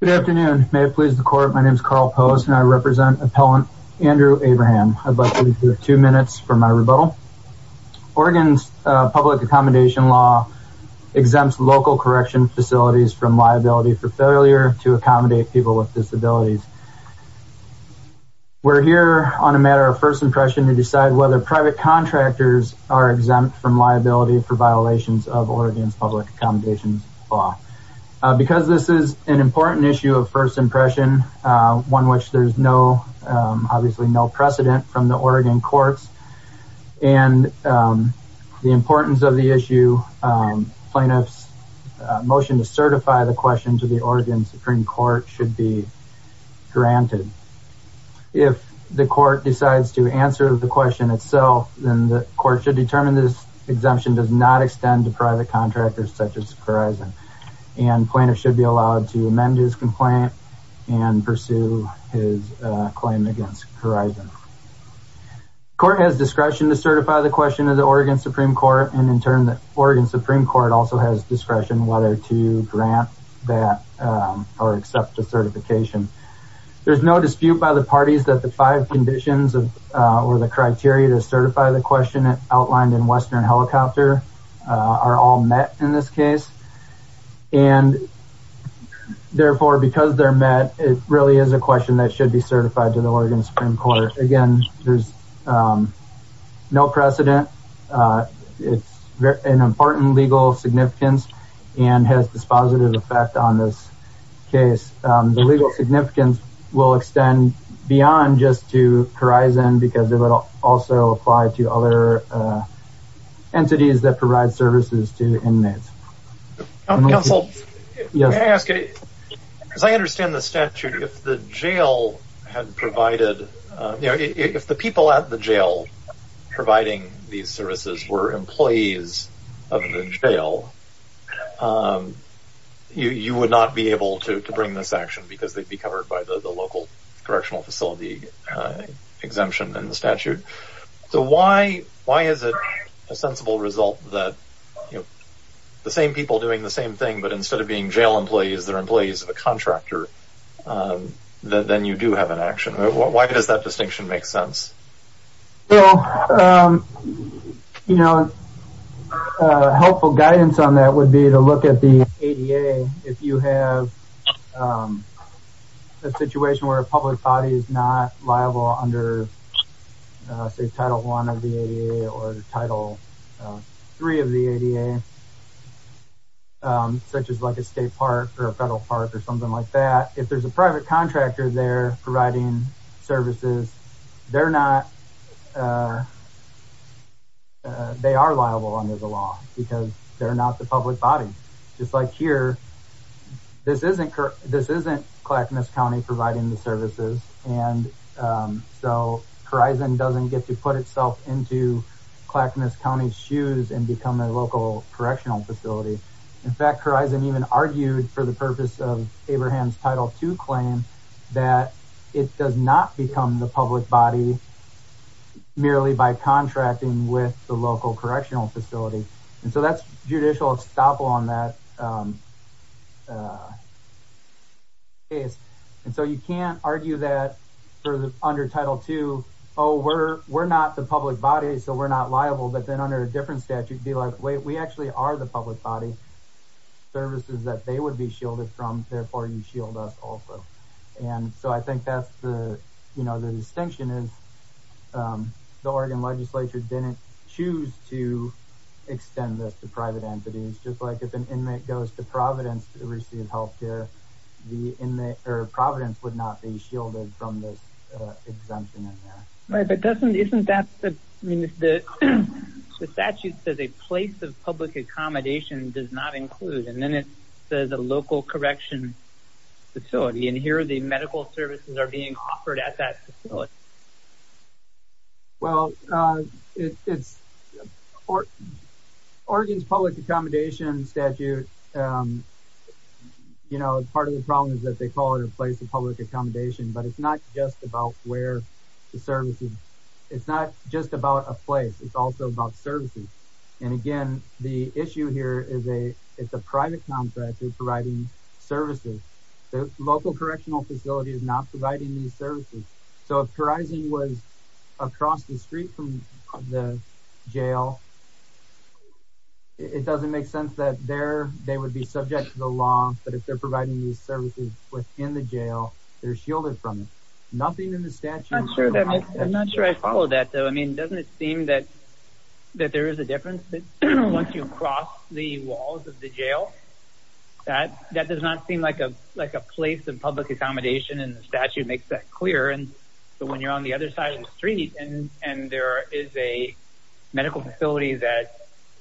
Good afternoon. May it please the court, my name is Carl Post and I represent appellant Andrew Abraham. I'd like to give you two minutes for my rebuttal. Oregon's public accommodation law exempts local correction facilities from liability for failure to accommodate people with disabilities. We're here on a matter of first impression to decide whether private contractors are exempt from liability for violations of Oregon's public accommodations law. Because this is an important issue of first impression, one which there's no obviously no precedent from the Oregon courts and the importance of the issue plaintiffs motion to certify the question to the Oregon Supreme Court should be granted. If the court decides to answer the question itself then the court should determine this exemption does not extend to private contractors such as Corizon and plaintiffs should be allowed to amend his complaint and pursue his claim against Corizon. The court has discretion to certify the question of the Oregon Supreme Court and in turn the Oregon Supreme Court also has discretion whether to grant that or accept a certification. There's no dispute by the parties that the five conditions of or the criteria to certify the question it outlined in Western Helicopter are all met in this case and therefore because they're met it really is a question that should be certified to the Oregon Supreme Court. Again there's no precedent it's an important legal significance and has dispositive effect on this case. The legal other entities that provide services to inmates. Counsel, can I ask, as I understand the statute if the jail had provided you know if the people at the jail providing these services were employees of the jail you you would not be able to bring this action because they'd be covered by the local correctional facility exemption in the statute. So why why is it a sensible result that you know the same people doing the same thing but instead of being jail employees they're employees of a contractor then you do have an action. Why does that distinction make sense? Well you know helpful guidance on that would be to look at the liable under say title one of the ADA or title three of the ADA such as like a state park or a federal park or something like that if there's a private contractor there providing services they're not they are liable under the law because they're not the public body just like here this isn't correct this so Horizon doesn't get to put itself into Clackamas County's shoes and become a local correctional facility. In fact Horizon even argued for the purpose of Abraham's title two claim that it does not become the public body merely by contracting with the local correctional facility and so that's judicial estoppel on that case and so you can't argue that for the under title two oh we're we're not the public body so we're not liable but then under a different statute be like wait we actually are the public body services that they would be shielded from therefore you shield us also and so I think that's the you know the distinction is the Oregon legislature didn't choose to extend this to private entities just like if an inmate goes to Providence to receive health care the inmate or Providence would not be shielded from this exemption in there. Right but doesn't isn't that the the statute says a place of public accommodation does not include and then it says a local correction facility and here are the medical services are being offered at that facility. Well it's Oregon's public accommodation statute you know part of the problem is that they call it a place of public accommodation but it's not just about where the services it's not just about a place it's also about services and again the issue here is a it's a private contract is providing services the local correctional facility is not providing these services so if Horizon was across the street from the jail it doesn't make sense that there they would be subject to the law but if they're providing these services within the jail they're shielded from nothing in the statute. I'm not sure I follow that though I mean doesn't it seem that that there is a difference that once you cross the walls of the jail that that does not seem like a like a place of public accommodation and the statute makes that clear and so when you're on the other side of the and there is a medical facility that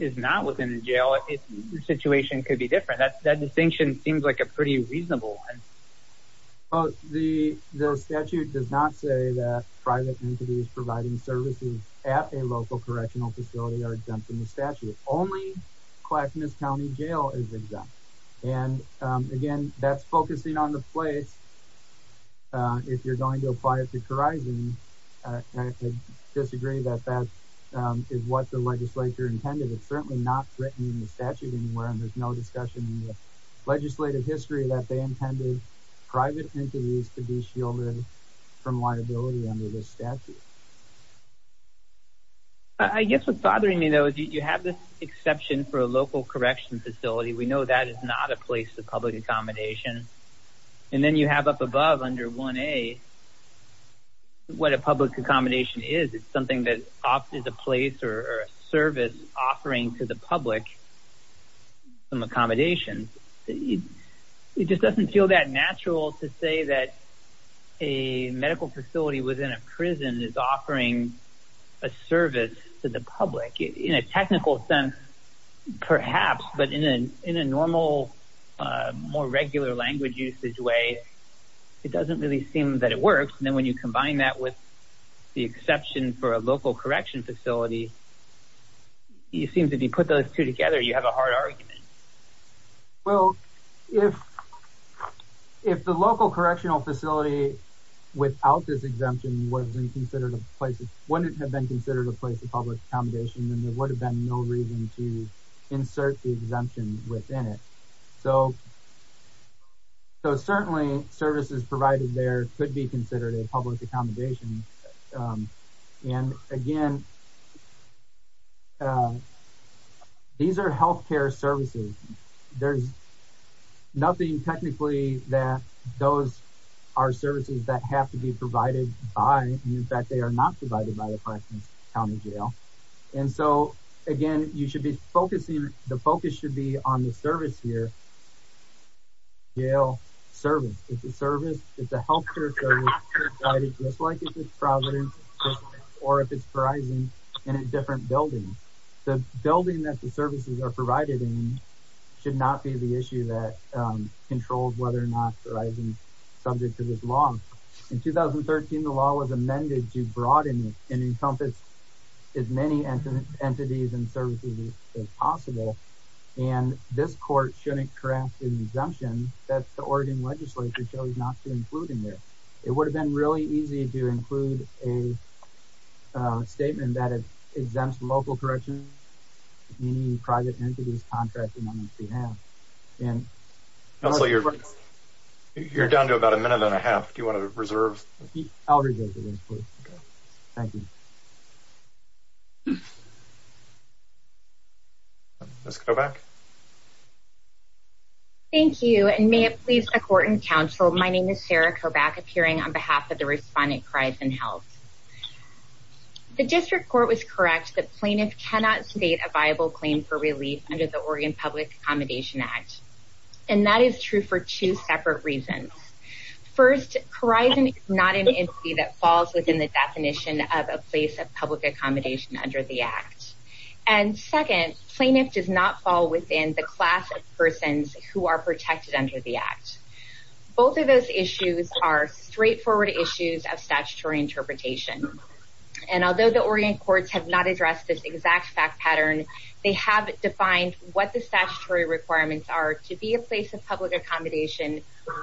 is not within the jail if the situation could be different that's that distinction seems like a pretty reasonable one. Oh the statute does not say that private entities providing services at a local correctional facility are exempt from the statute only Clackamas County Jail is exempt and again that's focusing on the place if you're going to apply it to Horizon I disagree that that is what the legislature intended it's certainly not written in the statute anywhere and there's no discussion in the legislative history that they intended private entities to be shielded from liability under this statute. I guess what's bothering me though is you have this exception for a local correction facility we know that is not a place of public accommodation and then you have up above under 1a what a public accommodation is it's something that opted a place or service offering to the public some accommodations it just doesn't feel that natural to say that a medical facility within a prison is offering a service to the public in a technical sense perhaps but in an in a more regular language usage way it doesn't really seem that it works and then when you combine that with the exception for a local correction facility you seem to be put those two together you have a hard argument. Well if if the local correctional facility without this exemption wasn't considered a place it wouldn't have been considered a place of public accommodation and there would have been no reason to insert the exemption within it so so certainly services provided there could be considered a public accommodation and again these are health care services there's nothing technically that those are services that have to be provided by in fact they are not provided by the again you should be focusing the focus should be on the service here Yale service it's a service it's a health care service provided just like if it's Providence or if it's Verizon in a different building the building that the services are provided in should not be the issue that controls whether or not Verizon is subject to this law. In 2013 the law was amended to broaden it and encompass as many entities and services as possible and this court shouldn't craft an exemption that the Oregon legislature chose not to include in there. It would have been really easy to include a statement that it exempts local correction meaning private entities contracting on its behalf. Counselor, you're down to about a minute. Ms. Kobach. Thank you and may it please the court and counsel my name is Sarah Kobach appearing on behalf of the respondent Verizon Health. The district court was correct the plaintiff cannot state a viable claim for relief under the Oregon Public Accommodation Act and that is true for two separate reasons. First Verizon is not an entity that falls within the definition of a place of public accommodation under the Act and second plaintiff does not fall within the class of persons who are protected under the Act. Both of those issues are straightforward issues of statutory interpretation and although the Oregon courts have not addressed this exact fact pattern they have defined what the statutory requirements are to be a place of public accommodation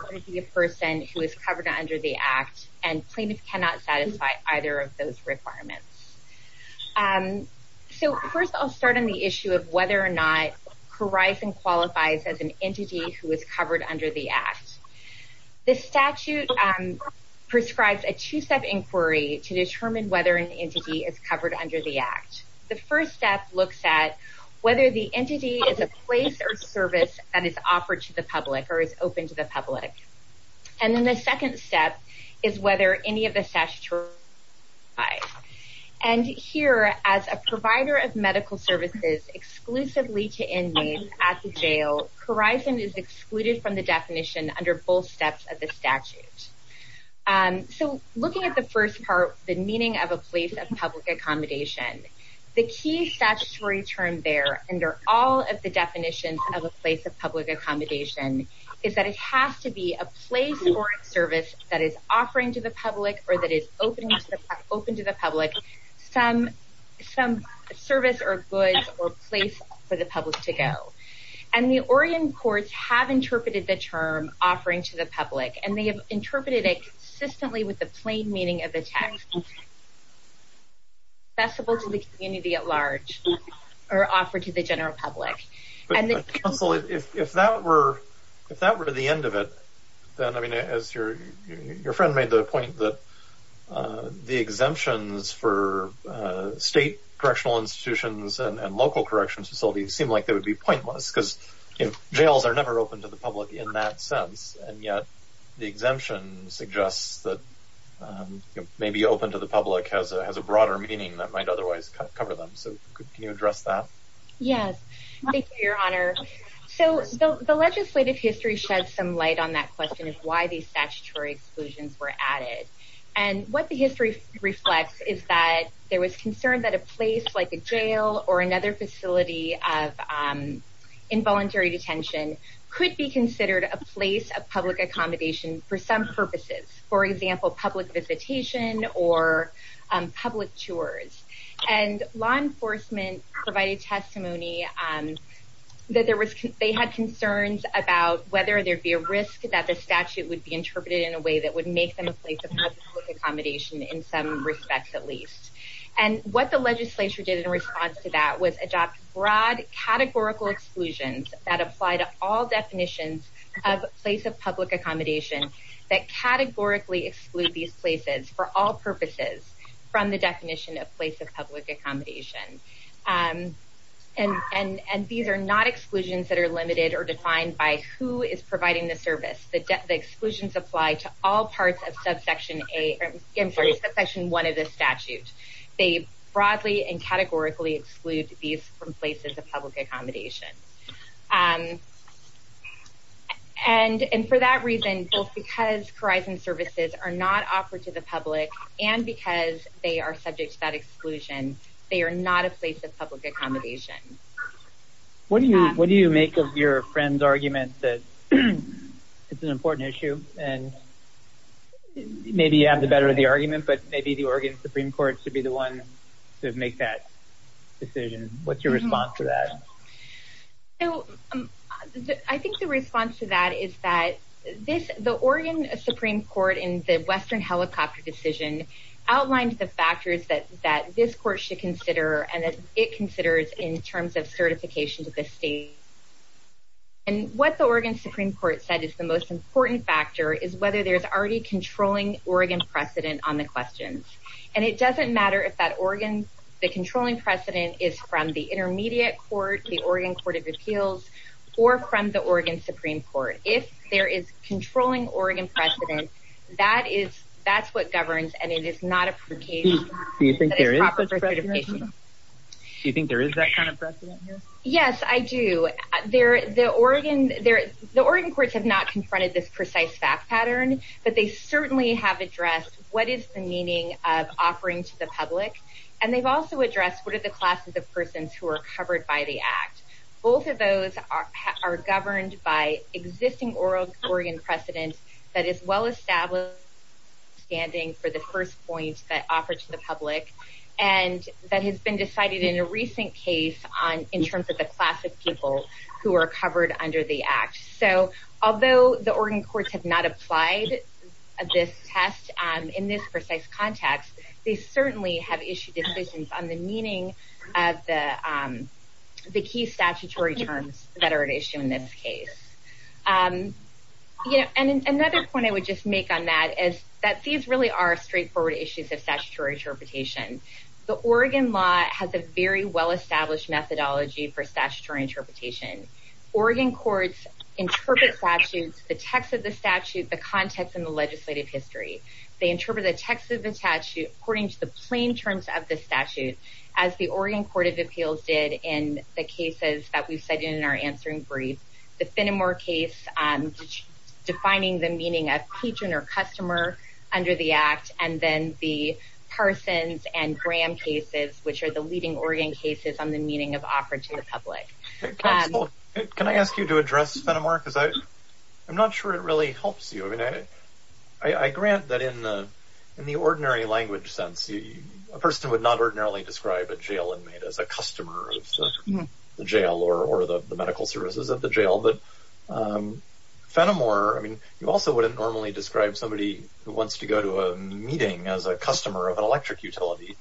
to be a person who is covered under the Act and plaintiff cannot satisfy either of those requirements. So first I'll start on the issue of whether or not Verizon qualifies as an entity who is covered under the Act. The statute prescribes a two-step inquiry to determine whether an entity is covered under the Act. The first step looks at whether the entity is a place or service that is offered to the public or is open to the public and then the second step is whether any of the statutory. And here as a provider of medical services exclusively to inmates at the jail Verizon is excluded from the definition under both steps of the statute. So looking at the first part the meaning of a place of public accommodation the key statutory term there under all of the definitions of a place of public accommodation is that it is a service that is offering to the public or that is open to the public some service or goods or place for the public to go. And the Oregon courts have interpreted the term offering to the public and they have interpreted it consistently with the plain meaning of the text accessible to the community at large or offered to the general public. Counsel if that were if that were the end of it then I mean as your your friend made the point that the exemptions for state correctional institutions and local corrections facilities seem like they would be pointless because you know jails are never open to the public in that sense and yet the exemption suggests that maybe open to the public has a broader meaning that might otherwise cover them that yes your honor so the legislative history shed some light on that question is why these statutory exclusions were added and what the history reflects is that there was concern that a place like a jail or another facility of involuntary detention could be considered a place of public accommodation for some purposes for example public visitation or public tours and law enforcement provided testimony that there was they had concerns about whether there'd be a risk that the statute would be interpreted in a way that would make them a place of public accommodation in some respects at least and what the legislature did in response to that was adopt broad categorical exclusions that apply to all definitions of place of public accommodation that categorically exclude these places for all purposes from the definition of place of public accommodation and and and these are not exclusions that are limited or defined by who is providing the service the debt the exclusions apply to all parts of subsection a I'm sorry section 1 of the statute they broadly and categorically exclude these from places of public accommodation and and for that reason both because horizon services are not offered to the public and because they are subject to that exclusion they are not a place of public accommodation what do you what do you make of your friends argument that it's an important issue and maybe you have the better of the argument but maybe the Oregon Supreme Court should be the one to make that decision what's your response to that I think the response to that is that this the Oregon Supreme Court in the Western helicopter decision outlined the factors that that this court should consider and that it considers in terms of certification to the state and what the Oregon Supreme Court said is the most important factor is whether there's already controlling Oregon precedent on the questions and it doesn't matter if that Oregon the controlling precedent is from the intermediate court the Oregon Court of Appeals or from the Oregon Supreme Court if there is controlling Oregon precedent that is that's what governs and it is not a pretty do you think there is that kind of precedent yes I do there the Oregon there the Oregon courts have not confronted this precise fact pattern but they certainly have addressed what is the meaning of offering to the public and they've also addressed what are the classes of existing oral Oregon precedent that is well established standing for the first point that offered to the public and that has been decided in a recent case on in terms of the class of people who are covered under the act so although the Oregon courts have not applied this test in this precise context they certainly have issued decisions on the meaning of the the key statutory terms that are an issue in this case you know and another point I would just make on that is that these really are straightforward issues of statutory interpretation the Oregon law has a very well established methodology for statutory interpretation Oregon courts interpret statutes the text of the statute the context in the legislative history they interpret the text of the statute according to the plain terms of the statute as the Oregon Court of Answering brief the Phenomore case and defining the meaning of patron or customer under the act and then the Parsons and Graham cases which are the leading Oregon cases on the meaning of offered to the public can I ask you to address Phenomore cuz I I'm not sure it really helps you I mean I grant that in the in the ordinary language sense a person would not ordinarily describe a but Fenimore I mean you also wouldn't normally describe somebody who wants to go to a meeting as a customer of an electric utility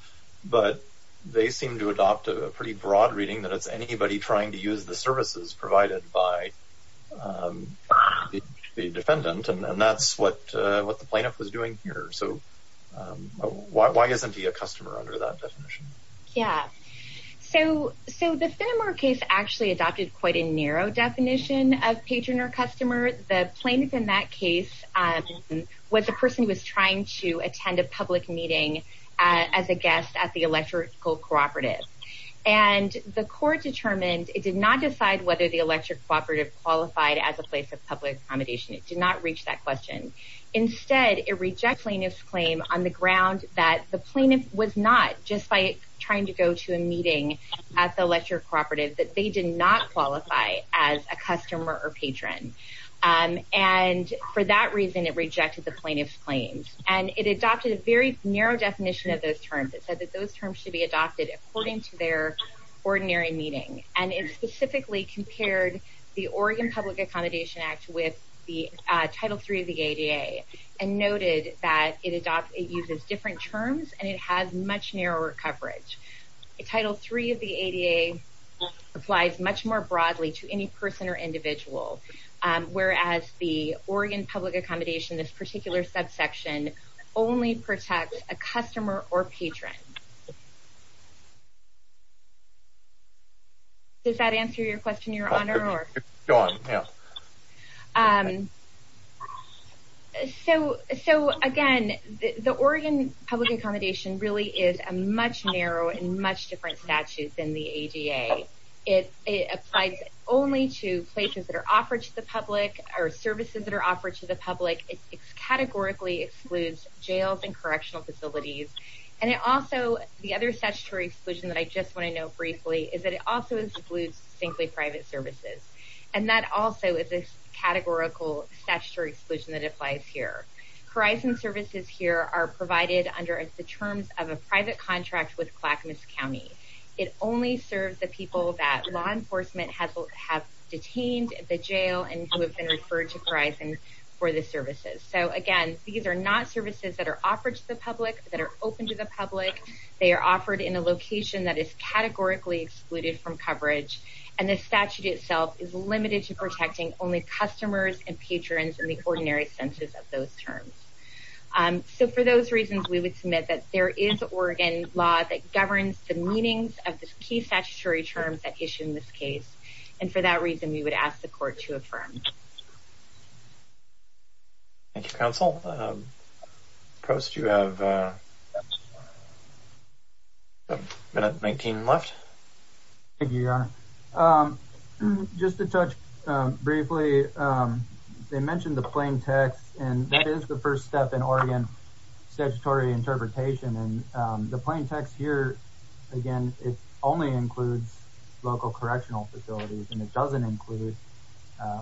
but they seem to adopt a pretty broad reading that it's anybody trying to use the services provided by the defendant and that's what what the plaintiff was doing here so why isn't he a customer under that definition yeah so so the Phenomore case actually adopted quite a narrow definition of patron or customer the plaintiff in that case was a person who was trying to attend a public meeting as a guest at the electrical cooperative and the court determined it did not decide whether the electric cooperative qualified as a place of public accommodation it did not reach that question instead it rejects plaintiff's claim on the ground that the plaintiff was not just by trying to go to a meeting at the electric cooperative that they did not qualify as a customer or patron and for that reason it rejected the plaintiff's claims and it adopted a very narrow definition of those terms it said that those terms should be adopted according to their ordinary meeting and it specifically compared the Oregon Public Accommodation Act with the title 3 of the ADA and noted that it adopted uses different terms and it has much narrower coverage the title 3 of the ADA applies much more broadly to any person or individual whereas the Oregon Public Accommodation this particular subsection only protects a customer or patron does public accommodation really is a much narrower and much different statute than the ADA it applies only to places that are offered to the public or services that are offered to the public it's categorically excludes jails and correctional facilities and it also the other statutory exclusion that I just want to know briefly is that it also includes distinctly private services and that also is a categorical statutory exclusion that applies here horizon services here are provided under the terms of a private contract with Clackamas County it only serves the people that law enforcement has have detained at the jail and who have been referred to Verizon for the services so again these are not services that are offered to the public that are open to the public they are offered in a location that is categorically excluded from coverage and the statute itself is limited to protecting only customers and so for those reasons we would submit that there is Oregon law that governs the meanings of the key statutory terms that issue in this case and for that reason we would ask the court to affirm Thank You counsel post you have a minute making left if you are just to touch briefly they mentioned the plaintext and that is the first step in Oregon statutory interpretation and the plaintext here again it only includes local correctional facilities and it doesn't include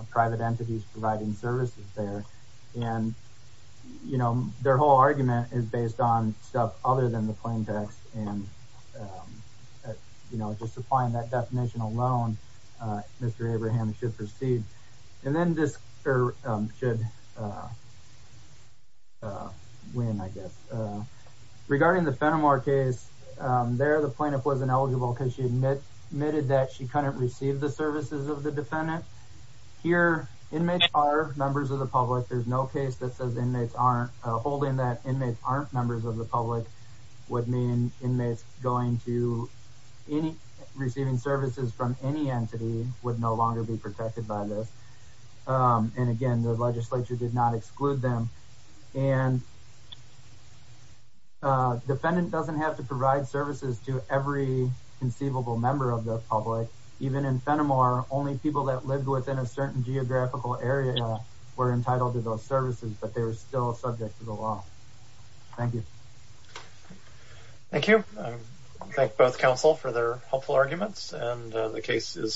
private entities providing services there and you know their whole argument is based on stuff other than the plaintext and you know just applying that definition alone mr. and then this should win I guess regarding the Fenimore case there the plaintiff was ineligible because she admitted that she couldn't receive the services of the defendant here inmates are members of the public there's no case that says inmates aren't holding that inmates aren't members of the public would mean inmates going to any receiving services from any entity would no longer be protected by this and again the legislature did not exclude them and defendant doesn't have to provide services to every conceivable member of the public even in Fenimore only people that lived within a certain geographical area were entitled to those services but they were still subject to the law thank you thank you both counsel for their helpful arguments and the case is submitted